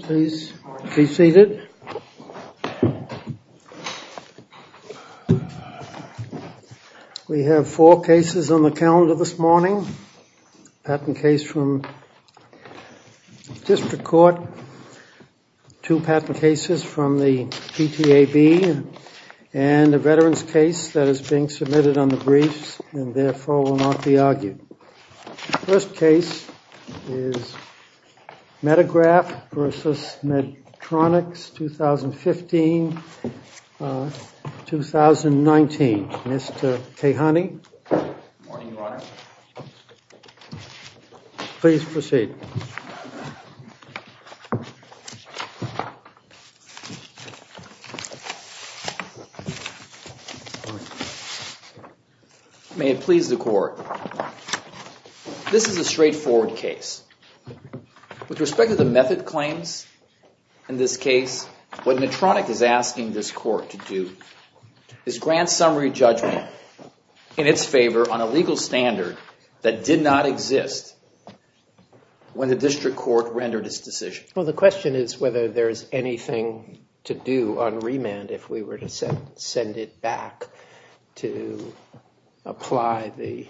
Please be seated. We have four cases on the calendar this morning. Patent case from District Court, two patent cases from the PTAB, and a veterans case that is being submitted on the briefs and therefore will not be argued. First case is Medegraph v. Medtronic, 2015-2019. Mr. Cahoney? Good morning, Your Honor. Please proceed. May it please the Court. This is a straightforward case. With respect to the method claims in this case, what Medtronic is asking this Court to do is grant summary judgment in its favor on a legal standard that did not exist. When the District Court rendered its decision. Well, the question is whether there is anything to do on remand if we were to send it back to apply the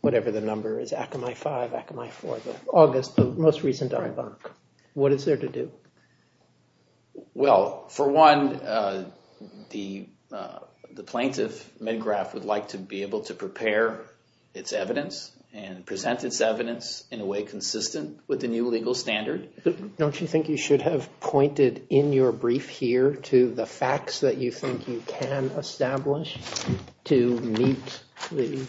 whatever the number is, Akamai 5, Akamai 4, August, the most recent dialogue. What is there to do? Well, for one, the plaintiff, Medgraph, would like to be able to prepare its evidence and present its evidence in a way consistent with the new legal standard. Don't you think you should have pointed in your brief here to the facts that you think you can establish to meet the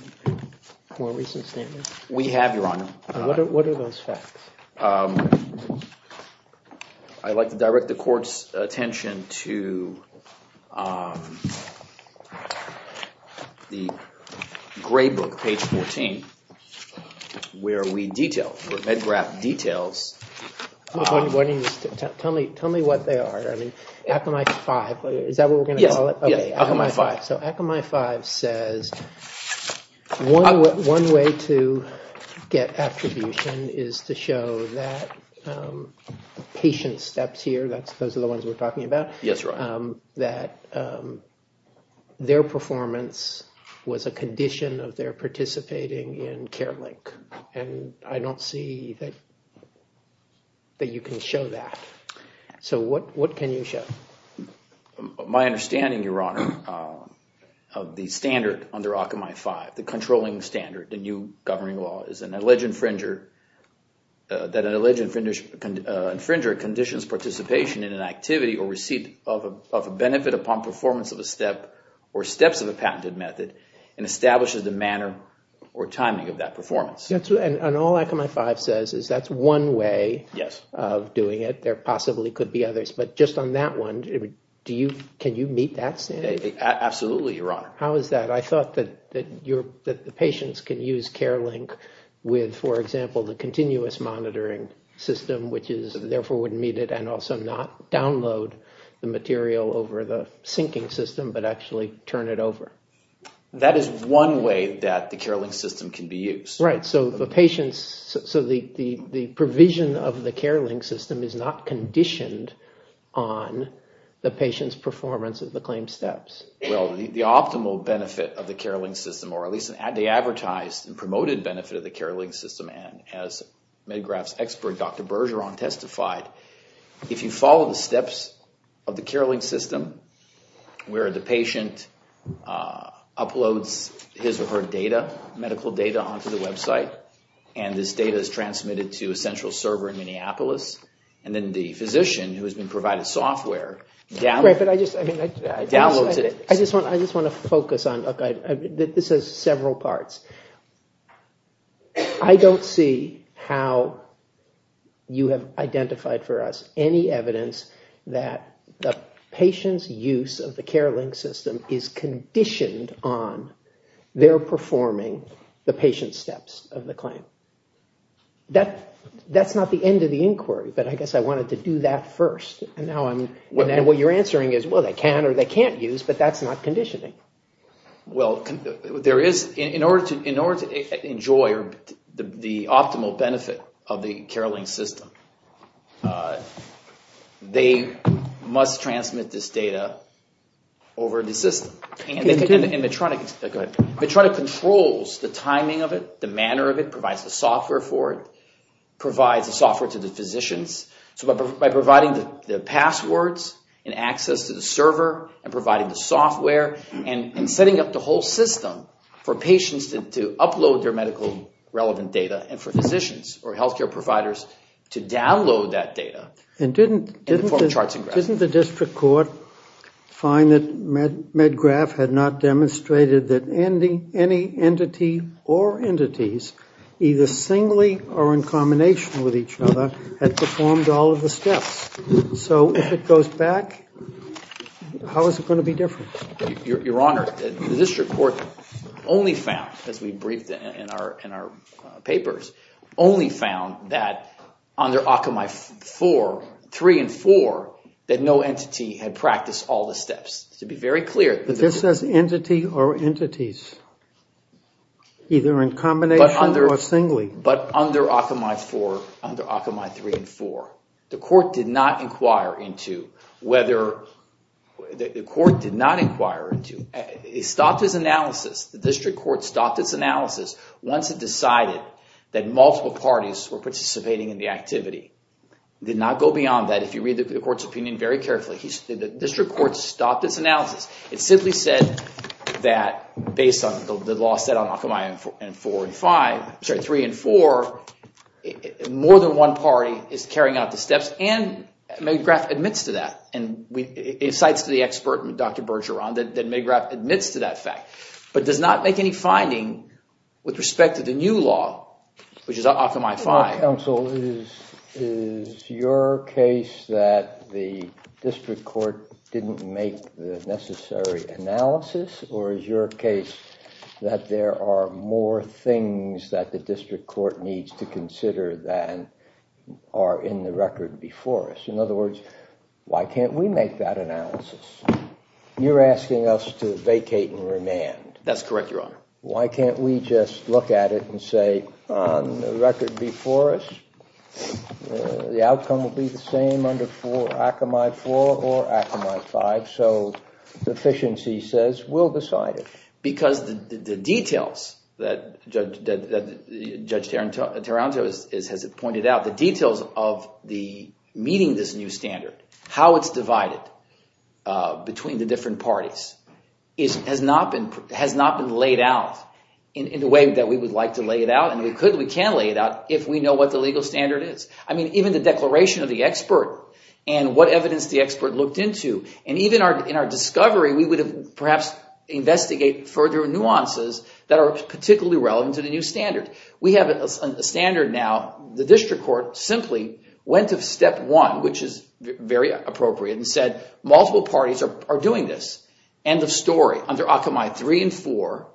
more recent standard? We have, Your Honor. What are those facts? I'd like to direct the Court's attention to the gray book, page 14, where we detail, where Medgraph details. Tell me what they are. I mean, Akamai 5, is that what we're going to call it? Yes, Akamai 5. So, Akamai 5 says one way to get attribution is to show that patient steps here, those are the ones we're talking about. Yes, Your Honor. That their performance was a condition of their participating in Care Link. And I don't see that you can show that. So, what can you show? My understanding, Your Honor, of the standard under Akamai 5, the controlling standard, the new governing law, is that an alleged infringer conditions participation in an activity or receipt of a benefit upon performance of a step or steps of a patented method and establishes the manner or timing of that performance. And all Akamai 5 says is that's one way of doing it. There possibly could be others. But just on that one, can you meet that standard? Absolutely, Your Honor. How is that? I thought that the patients can use Care Link with, for example, the continuous monitoring system, which is therefore would meet it and also not download the material over the syncing system, but actually turn it over. That is one way that the Care Link system can be used. Right, so the patient's, so the provision of the Care Link system is not conditioned on the patient's performance of the claimed steps. Well, the optimal benefit of the Care Link system, or at least the advertised and promoted benefit of the Care Link system, and as MedGraph's expert, Dr. Bergeron, testified, if you follow the steps of the Care Link system, where the patient uploads his or her data, medical data, onto the website, and this data is transmitted to a central server in Minneapolis, and then the physician, who has been provided software, downloads it. I just want to focus on, this has several parts. I don't see how you have identified for us any evidence that the patient's use of the Care Link system is conditioned on their performing the patient's steps of the claim. That's not the end of the inquiry, but I guess I wanted to do that first. And what you're answering is, well, they can or they can't use, but that's not conditioning. Well, there is, in order to enjoy the optimal benefit of the Care Link system, they must transmit this data over the system. And Medtronic controls the timing of it, the manner of it, provides the software for it, provides the software to the physicians. So by providing the passwords and access to the server, and providing the software, and setting up the whole system for patients to upload their medical relevant data, and for physicians or health care providers to download that data, and perform charts and graphs. And didn't the district court find that MedGraph had not demonstrated that any entity or entities, either singly or in combination with each other, had performed all of the steps? So if it goes back, how is it going to be different? Your Honor, the district court only found, as we briefed in our papers, only found that under Occamie 4, 3 and 4, that no entity had practiced all the steps. To be very clear. But this says entity or entities, either in combination or singly. But under Occamie 4, under Occamie 3 and 4, the court did not inquire into whether, the court did not inquire into, it stopped its analysis. The district court stopped its analysis once it decided that multiple parties were participating in the activity. Did not go beyond that. If you read the court's opinion very carefully, the district court stopped its analysis. It simply said that based on the law set on Occamie 4 and 5, sorry, 3 and 4, more than one party is carrying out the steps. And Magrath admits to that. And it cites the expert, Dr. Bergeron, that Magrath admits to that fact. But does not make any finding with respect to the new law, which is Occamie 5. Counsel, is your case that the district court didn't make the necessary analysis? Or is your case that there are more things that the district court needs to consider than are in the record before us? In other words, why can't we make that analysis? You're asking us to vacate and remand. That's correct, Your Honor. Why can't we just look at it and say, on the record before us, the outcome will be the same under Occamie 4 or Occamie 5. So, the efficiency says, we'll decide it. Because the details that Judge Taranto has pointed out, the details of meeting this new standard, how it's divided between the different parties, has not been laid out in the way that we would like to lay it out. And we could, we can lay it out, if we know what the legal standard is. I mean, even the declaration of the expert and what evidence the expert looked into. And even in our discovery, we would have perhaps investigated further nuances that are particularly relevant to the new standard. We have a standard now. The district court simply went to step one, which is very appropriate, and said, multiple parties are doing this. End of story. Under Occamie 3 and 4,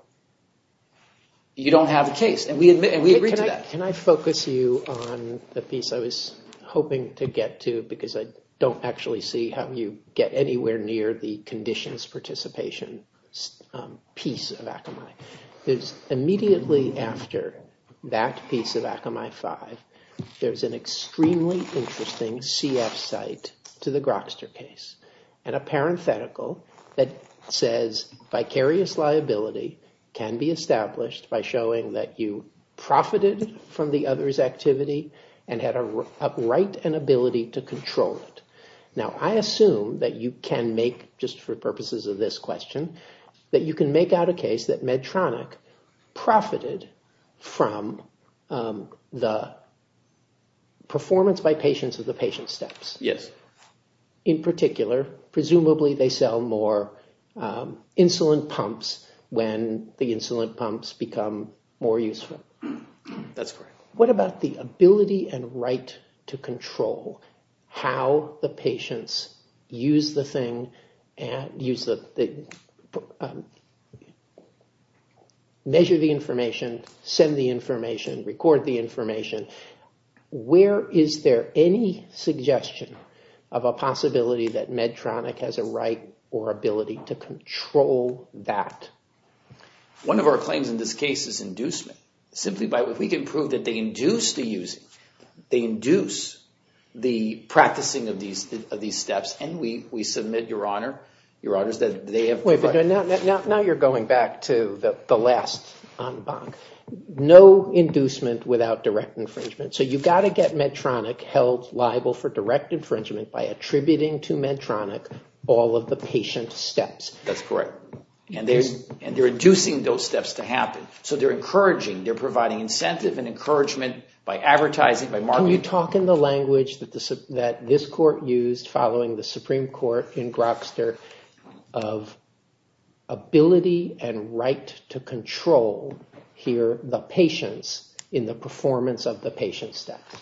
you don't have a case. And we agree to that. Can I focus you on the piece I was hoping to get to, because I don't actually see how you get anywhere near the conditions participation piece of Occamie. It's immediately after that piece of Occamie 5, there's an extremely interesting CF site to the Grokster case. And a parenthetical that says, vicarious liability can be established by showing that you profited from the other's activity and had a right and ability to control it. Now, I assume that you can make, just for purposes of this question, that you can make out a case that Medtronic profited from the performance by patients of the patient steps. Yes. In particular, presumably they sell more insulin pumps when the insulin pumps become more useful. That's correct. What about the ability and right to control how the patients use the thing, measure the information, send the information, record the information. Where is there any suggestion of a possibility that Medtronic has a right or ability to control that? One of our claims in this case is inducement. Simply by, if we can prove that they induce the using, they induce the practicing of these steps. And we submit, Your Honor, that they have the right. Wait a minute. Now you're going back to the last on BANC. No inducement without direct infringement. So you've got to get Medtronic held liable for direct infringement by attributing to Medtronic all of the patient steps. That's correct. And they're inducing those steps to happen. So they're encouraging. They're providing incentive and encouragement by advertising, by marketing. Can you talk in the language that this court used following the Supreme Court in Grokster of ability and right to control here the patients in the performance of the patient steps?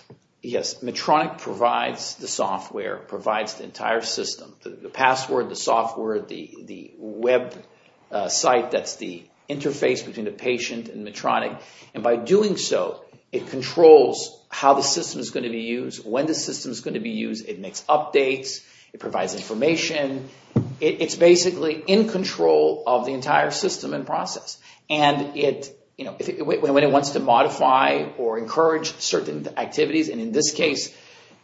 Yes. Medtronic provides the software, provides the entire system, the password, the software, the website that's the interface between the patient and Medtronic. And by doing so, it controls how the system is going to be used, when the system is going to be used. It makes updates. It provides information. It's basically in control of the entire system and process. And when it wants to modify or encourage certain activities, and in this case,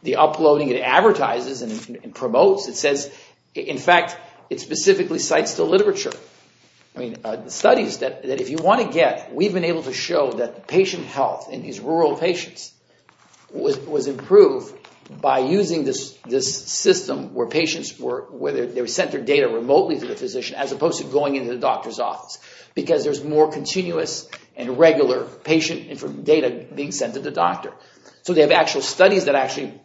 the uploading it advertises and promotes, it says, in fact, it specifically cites the literature, studies that if you want to get, we've been able to show that the patient health in these rural patients was improved by using this system where patients were sent their data remotely to the physician as opposed to going into the doctor's office because there's more continuous and regular patient data being sent to the doctor. So they have actual studies that actually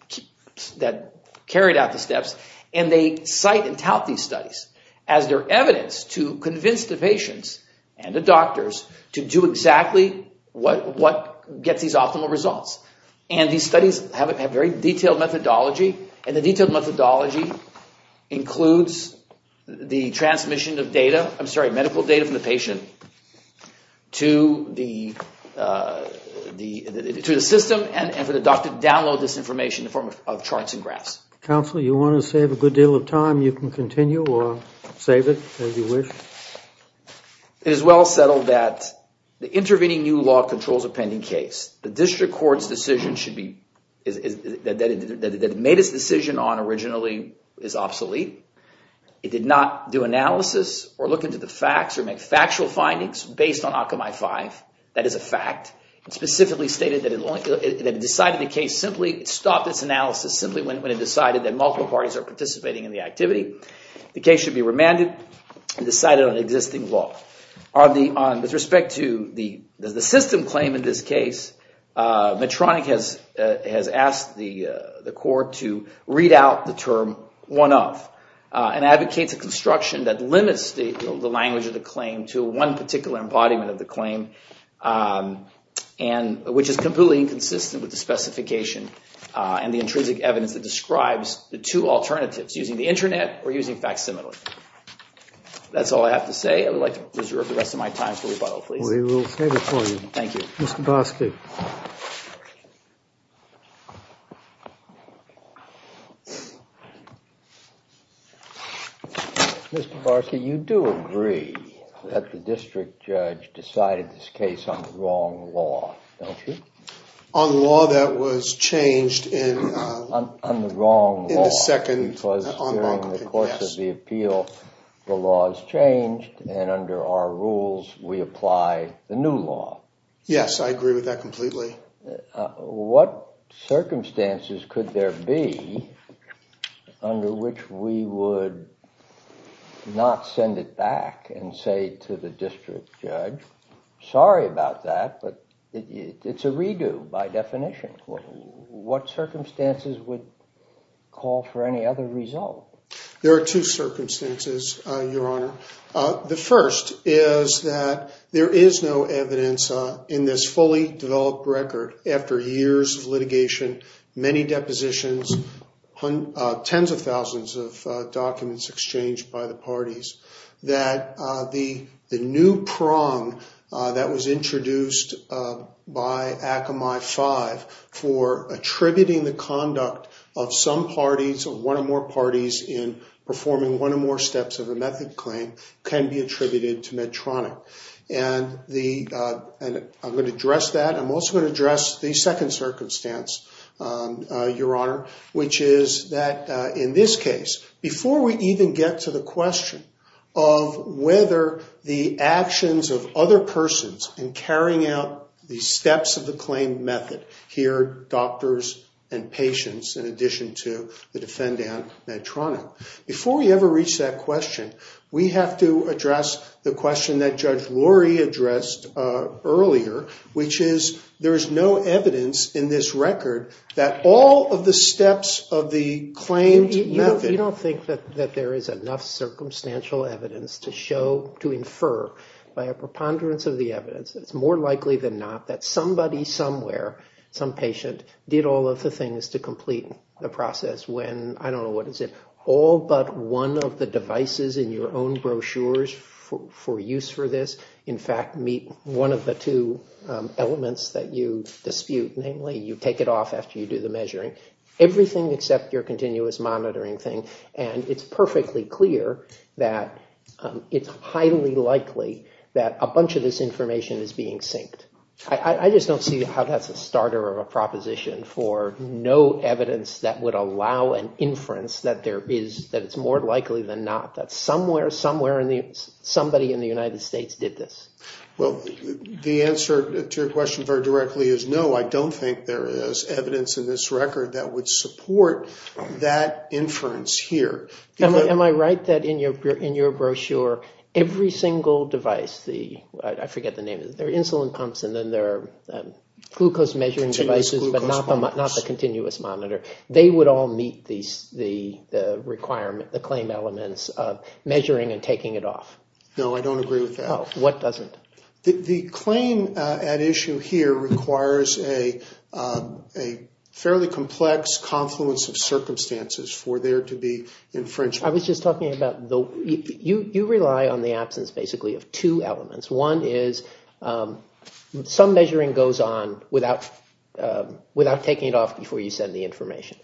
carried out the steps and they cite and tout these studies as their evidence to convince the patients and the doctors to do exactly what gets these optimal results. And these studies have a very detailed methodology and the detailed methodology includes the transmission of data, I'm sorry, medical data from the patient to the system and for the doctor to download this information in the form of charts and graphs. Counselor, you want to save a good deal of time, you can continue or save it as you wish. It is well settled that the intervening new law controls a pending case. The district court's decision should be, that it made its decision on originally is obsolete. It did not do analysis or look into the facts or make factual findings based on Occupy 5. That is a fact. It specifically stated that it decided the case simply, it stopped its analysis simply when it decided that multiple parties are participating in the activity. The case should be remanded and decided on existing law. With respect to the system claim in this case, Medtronic has asked the court to read out the term one of and advocates a construction that limits the language of the claim to one particular embodiment of the claim which is completely inconsistent with the specification and the intrinsic evidence that describes the two alternatives, using the internet or using facsimile. That's all I have to say. I would like to reserve the rest of my time for rebuttal, please. We will save it for you. Thank you. Mr. Barsky. Mr. Barsky, you do agree that the district judge decided this case on the wrong law, don't you? On law that was changed in the second en banc, yes. On the wrong law, because during the course of the appeal, the law has changed, and under our rules, we apply the new law. Yes, I agree with that completely. What circumstances could there be under which we would not send it back and say to the district judge, sorry about that, but it's a redo by definition. What circumstances would call for any other result? There are two circumstances, Your Honor. The first is that there is no evidence in this fully developed record, after years of litigation, many depositions, tens of thousands of documents exchanged by the parties, that the new prong that was introduced by Akamai 5 for attributing the conduct of some parties, or one or more parties, in performing one or more steps of a method claim can be attributed to Medtronic. And I'm going to address that. I'm also going to address the second circumstance, Your Honor, which is that in this case, before we even get to the question of whether the actions of other persons in carrying out the steps of the claim method, here, doctors and patients, in addition to the defendant, Medtronic, before we ever reach that question, we have to address the question that Judge Lurie addressed earlier, which is there is no evidence in this record that all of the steps of the claimed method. We don't think that there is enough circumstantial evidence to show, to infer, by a preponderance of the evidence, it's more likely than not, that somebody somewhere, some patient, did all of the things to complete the process when, I don't know what is it, all but one of the devices in your own brochures for use for this, in fact, meet one of the two elements that you dispute, namely, you take it off after you do the measuring. Everything except your continuous monitoring thing. And it's perfectly clear that it's highly likely that a bunch of this information is being synced. I just don't see how that's a starter of a proposition for no evidence that would allow an inference that it's more likely than not that somewhere, somewhere, somebody in the United States did this. Well, the answer to your question very directly is no. I don't think there is evidence in this record that would support that inference here. Am I right that in your brochure, every single device, the, I forget the name of it, there are insulin pumps and then there are glucose measuring devices, but not the continuous monitor. They would all meet the requirement, the claim elements of measuring and taking it off. No, I don't agree with that. What doesn't? The claim at issue here requires a fairly complex confluence of circumstances for there to be inference. I was just talking about, you rely on the absence, basically, of two elements. One is some measuring goes on without taking it off before you send the information.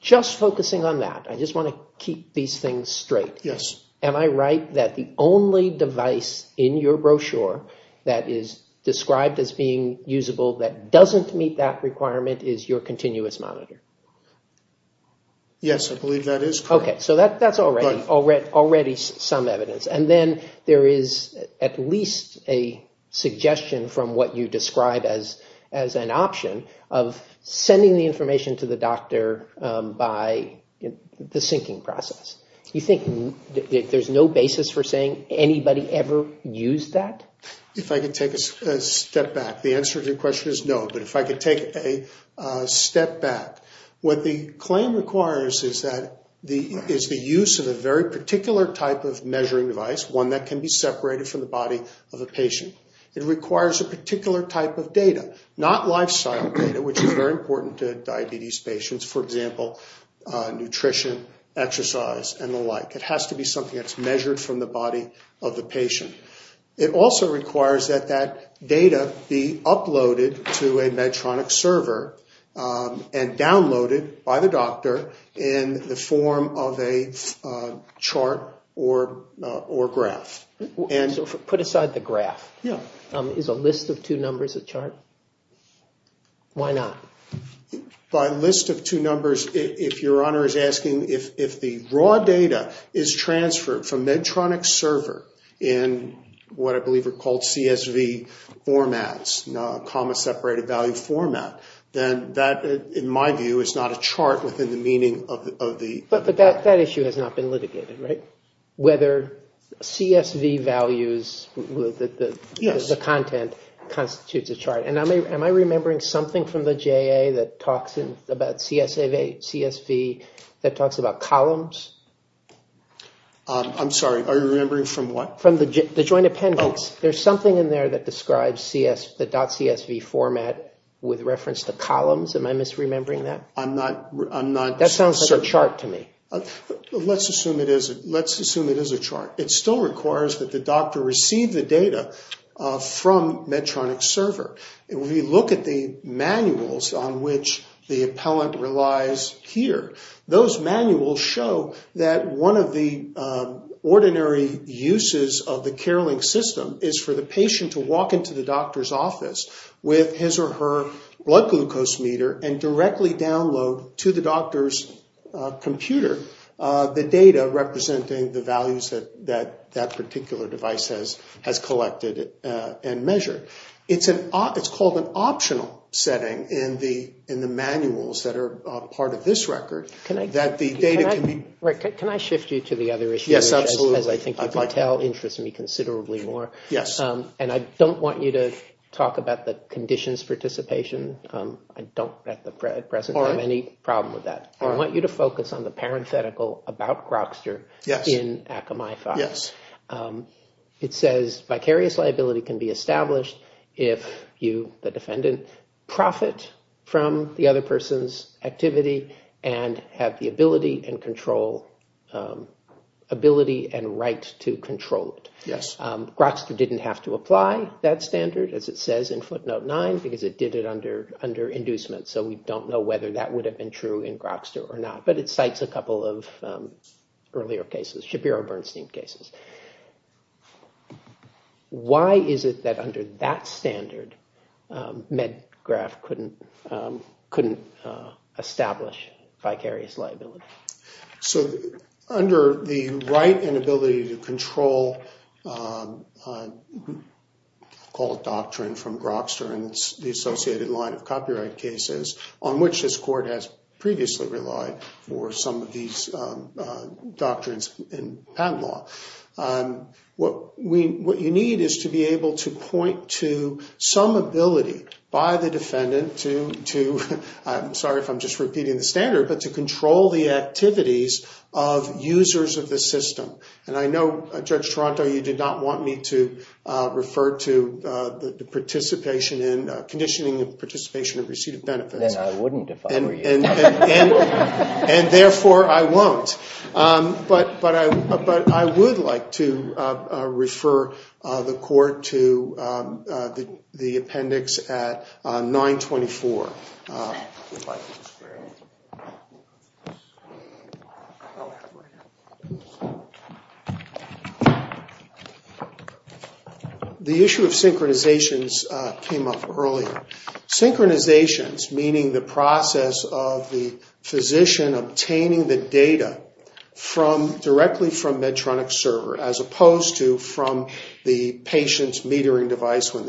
Just focusing on that, I just want to keep these things straight. Yes. Am I right that the only device in your brochure that is described as being usable that doesn't meet that requirement is your continuous monitor? Yes, I believe that is correct. Okay, so that's already some evidence. And then there is at least a suggestion from what you describe as an option of sending the information to the doctor by the syncing process. You think that there's no basis for saying anybody ever used that? If I could take a step back, the answer to your question is no. But if I could take a step back, what the claim requires is the use of a very particular type of measuring device, one that can be separated from the body of a patient. It requires a particular type of data, not lifestyle data, which is very important to diabetes patients. For example, nutrition, exercise, and the like. It has to be something that's measured from the body of the patient. It also requires that that data be uploaded to a Medtronic server and downloaded by the doctor in the form of a chart or graph. So put aside the graph. Yeah. Is a list of two numbers a chart? Why not? By list of two numbers, if your honor is asking if the raw data is transferred from Medtronic's server in what I believe are called CSV formats, comma-separated value format, then that, in my view, is not a chart within the meaning of the... But that issue has not been litigated, right? Whether CSV values, the content, constitutes a chart. And am I remembering something from the JA that talks about CSV that talks about columns? I'm sorry. Are you remembering from what? From the joint appendix. There's something in there that describes the .CSV format with reference to columns. Am I misremembering that? I'm not... That sounds like a chart to me. Let's assume it is a chart. It still requires that the doctor receive the data from Medtronic's server. And when we look at the manuals on which the appellant relies here, those manuals show that one of the ordinary uses of the Care Link system is for the patient to walk into the doctor's office with his or her blood glucose meter and directly download to the doctor's computer the data representing the values that that particular device has collected and measured. It's called an optional setting in the manuals that are part of this record that the data can be... Rick, can I shift you to the other issue? Yes, absolutely. As I think you might tell, interests me considerably more. Yes. And I don't want you to talk about the conditions participation. I don't at present have any problem with that. I want you to focus on the parenthetical about Grokster in Akamai-5. Yes. It says vicarious liability can be established if you, the defendant, profit from the other person's activity and have the ability and control... ability and right to control it. Yes. Grokster didn't have to apply that standard, as it says in footnote 9, because it did it under inducement. So we don't know whether that would have been true in Grokster or not. But it cites a couple of earlier cases, Shapiro-Bernstein cases. Why is it that under that standard, Medgraf couldn't... couldn't establish vicarious liability? So under the right and ability to control... call it doctrine from Grokster and the associated line of copyright cases on which this court has previously relied for some of these doctrines in patent law. What we... what you need is to be able to point to some ability by the defendant to... sorry if I'm just repeating the standard, but to control the activities of users of the system. And I know, Judge Toronto, you did not want me to refer to the participation in... And I wouldn't if I were you. And therefore, I won't. But I would like to refer the court to the appendix at 924. The issue of synchronizations came up earlier. Synchronizations, meaning the process of the physician obtaining the data from... directly from Medtronic server as opposed to from the patient's metering device when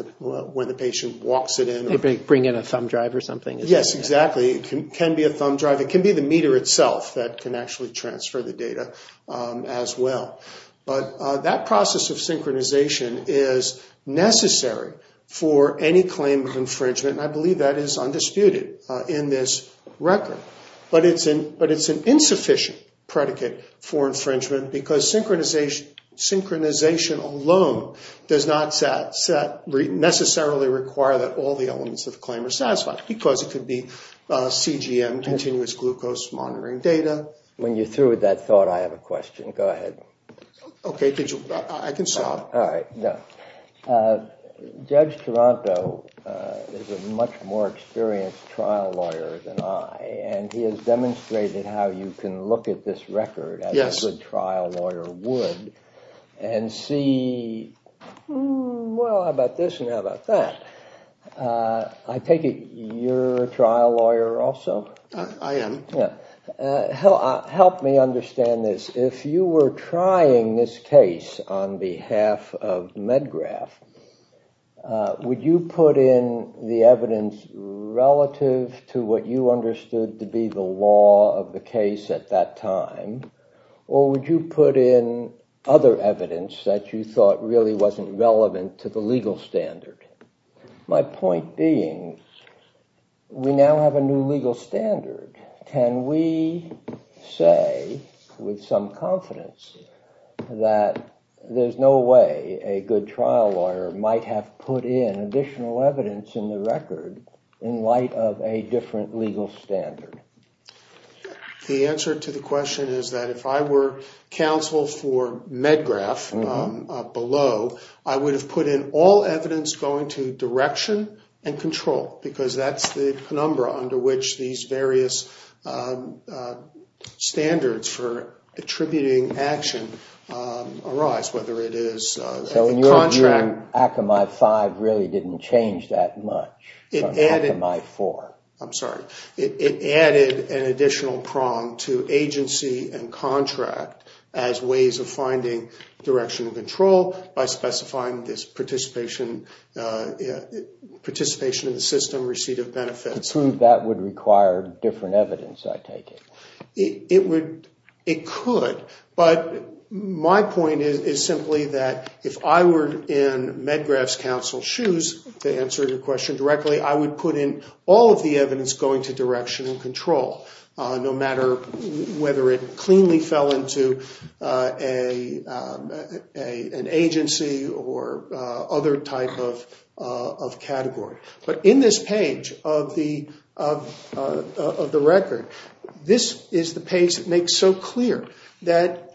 the patient walks it in. They bring in a thumb drive or something. Yes, exactly. It can be a thumb drive. It can be the meter itself that can actually transfer the data as well. But that process of synchronization is necessary for any claim of infringement. And I believe that is undisputed in this record. But it's an insufficient predicate for infringement because synchronization alone does not necessarily require that all the elements of the claim are satisfied because it could be CGM, continuous glucose monitoring data. When you're through with that thought, I have a question. Go ahead. Okay, I can stop. All right. Judge Taranto is a much more experienced trial lawyer than I, and he has demonstrated how you can look at this record as a good trial lawyer would and see, well, how about this and how about that? I take it you're a trial lawyer also? I am. Help me understand this. If you were trying this case on behalf of MedGraph, would you put in the evidence relative to what you understood to be the law of the case at that time, or would you put in other evidence that you thought really wasn't relevant to the legal standard? My point being, we now have a new legal standard. Can we say with some confidence that there's no way a good trial lawyer might have put in additional evidence in the record in light of a different legal standard? The answer to the question is that if I were counsel for MedGraph below, I would have put in all evidence going to direction and control because that's the penumbra under which these various standards for attributing action arise, whether it is a contract. So in your view, ACMI-5 really didn't change that much from ACMI-4? I'm sorry. It added an additional prong to agency and contract as ways of finding direction and control by specifying this participation in the system, receipt of benefits. I would assume that would require different evidence, I take it. It would. It could. But my point is simply that if I were in MedGraph's counsel's shoes to answer your question directly, I would put in all of the evidence going to direction and control, no matter whether it cleanly fell into an agency or other type of category. But in this page of the record, this is the page that makes so clear that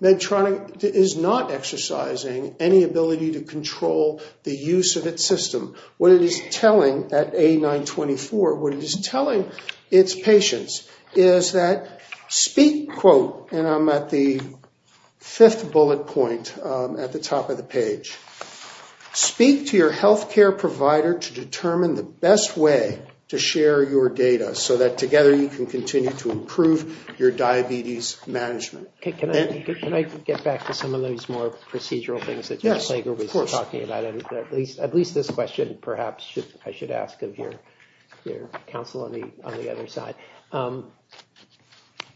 Medtronic is not exercising any ability to control the use of its system. What it is telling at A924, what it is telling its patients is that, quote, and I'm at the fifth bullet point at the top of the page, speak to your health care provider to determine the best way to share your data, so that together you can continue to improve your diabetes management. Can I get back to some of those more procedural things that Jeff Slager was talking about? At least this question, perhaps, I should ask of your counsel on the other side.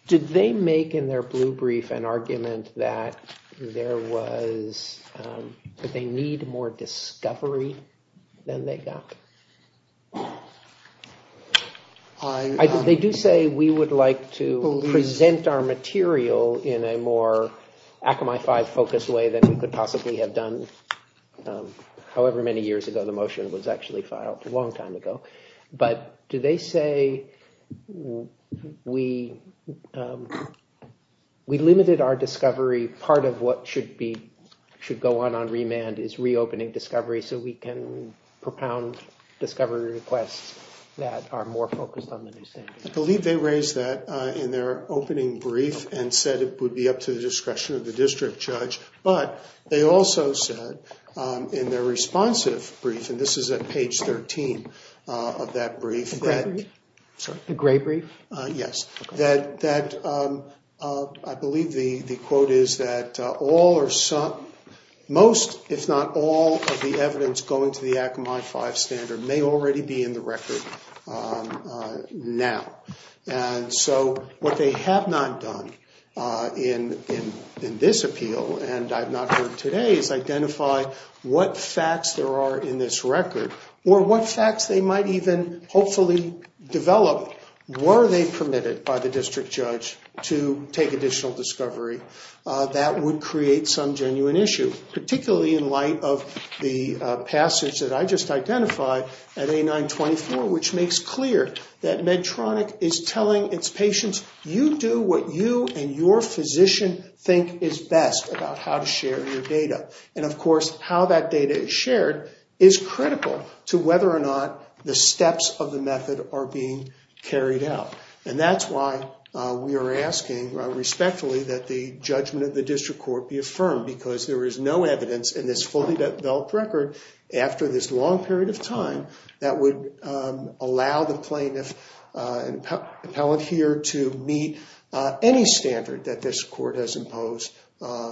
Did they make in their blue brief an argument that they need more discovery than they want? They do say we would like to present our material in a more Akamai-five focused way than we could possibly have done however many years ago the motion was actually filed, a long time ago. But do they say we limited our discovery part of what should go on on remand is reopening discovery so we can propound discovery requests that are more focused on the new standard? I believe they raised that in their opening brief and said it would be up to the discretion of the district judge. But they also said in their responsive brief, and this is at page 13 of that brief. The gray brief? Yes. I believe the quote is that all or some, most if not all of the evidence going to the Akamai-five standard may already be in the record now. And so what they have not done in this appeal, and I've not heard today, is identify what facts there are in this record or what facts they might even hopefully develop. Were they permitted by the district judge to take additional discovery? That would create some genuine issue, particularly in light of the passage that I just identified at A924, which makes clear that Medtronic is telling its patients, you do what you and your physician think is best about how to share your data. And of course, how that data is shared is critical to whether or not the steps of the method are being carried out. And that's why we are asking respectfully that the judgment of the district court be affirmed, because there is no evidence in this fully-developed record after this long period of time that would allow the plaintiff and appellant here to meet any standard that this court has imposed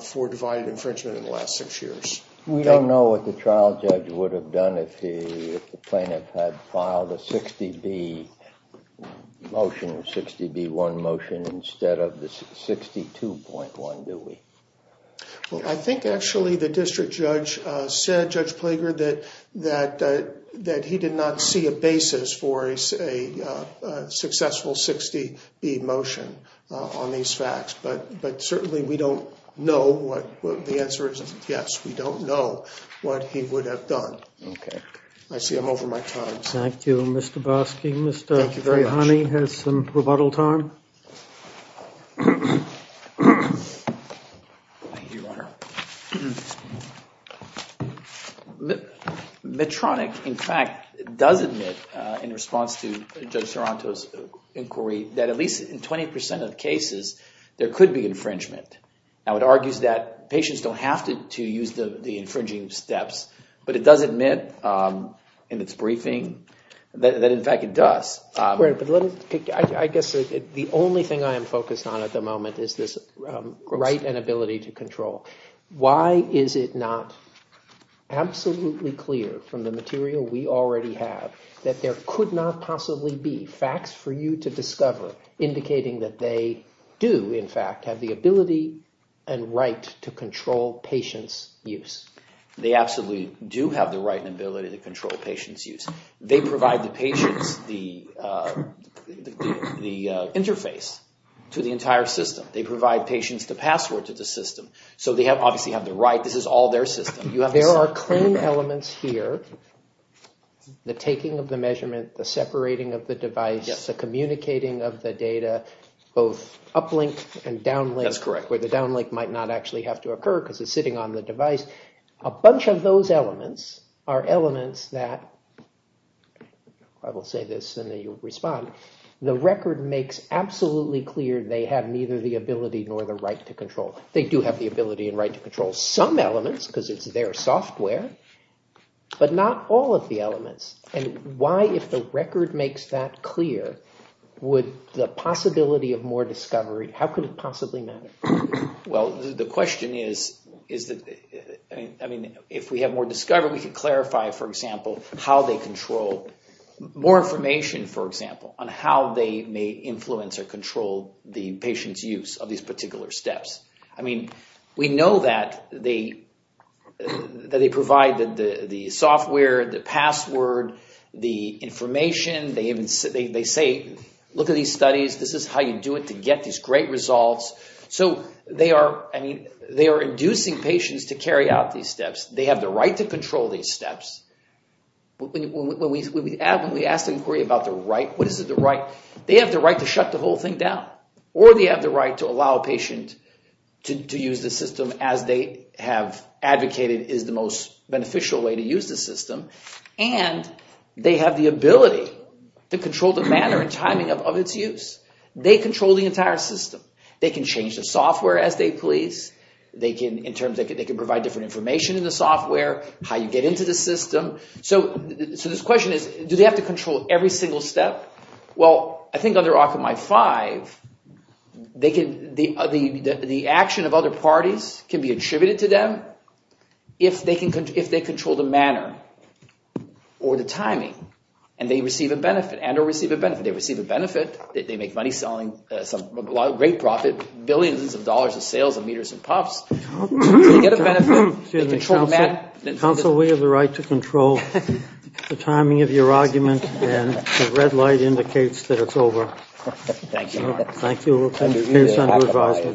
for divided infringement in the last six years. We don't know what the trial judge would have done if the plaintiff had filed a 60B motion or 60B1 motion instead of the 62.1, do we? Well, I think, actually, the district judge said, Judge Plager, that he did not see a basis for a successful 60B motion on these facts. But certainly, we don't know what the answer is. Yes, we don't know what he would have done. I see I'm over my time. Thank you, Mr. Boski. Thank you very much. Mr. Ghani has some rebuttal time. Medtronic, in fact, does admit, in response to Judge Soronto's inquiry, that at least in 20% of cases, there could be infringement. Now, it argues that patients don't have to use the infringing steps. But it does admit in its briefing that, in fact, it does. Right, but let me pick, I guess, the only thing I am focused on at the moment is this right and ability to control. Why is it not absolutely clear from the material we already have that there could not possibly be facts for you to discover indicating that they do, in fact, have the ability and right to control patients' use? They absolutely do have the right and ability to control patients' use. They provide the patients the interface to the entire system. They provide patients the password to the system. So they obviously have the right. This is all their system. There are claim elements here, the taking of the measurement, the separating of the device, the communicating of the data, both uplink and downlink, where the downlink might not actually have to occur because it's sitting on the device. A bunch of those elements are elements that, I will say this and then you'll respond, the record makes absolutely clear they have neither the ability nor the right to control. They do have the ability and right to control some elements because it's their software, but not all of the elements. And why, if the record makes that clear, would the possibility of more discovery, how could it possibly matter? Well, the question is, I mean, if we have more discovery, we could clarify, for example, how they control more information, for example, on how they may influence or control the patient's use of these particular steps. I mean, we know that they provide the software, the password, the information. They say, look at these studies. This is how you do it to get these great results. So they are, I mean, they are inducing patients to carry out these steps. They have the right to control these steps. When we ask the inquiry about the right, what is the right? They have the right to shut the whole thing down or they have the right to allow a patient to use the system as they have advocated is the most beneficial way to use the system. And they have the ability to control the manner and timing of its use. They control the entire system. They can change the software as they please. They can, in terms, they can provide different information in the software, how you get into the system. So this question is, do they have to control every single step? Well, I think under Occupy 5, the action of other parties can be attributed to them if they control the manner or the timing and they receive a benefit and or receive a benefit. They receive a benefit. They make money selling some great profit, billions of dollars of sales of meters and puffs. They get a benefit. They control the manner. Counsel, we have the right to control the timing of your argument and the red light indicates that it's over. Thank you. Thank you. We'll continue this under advisement.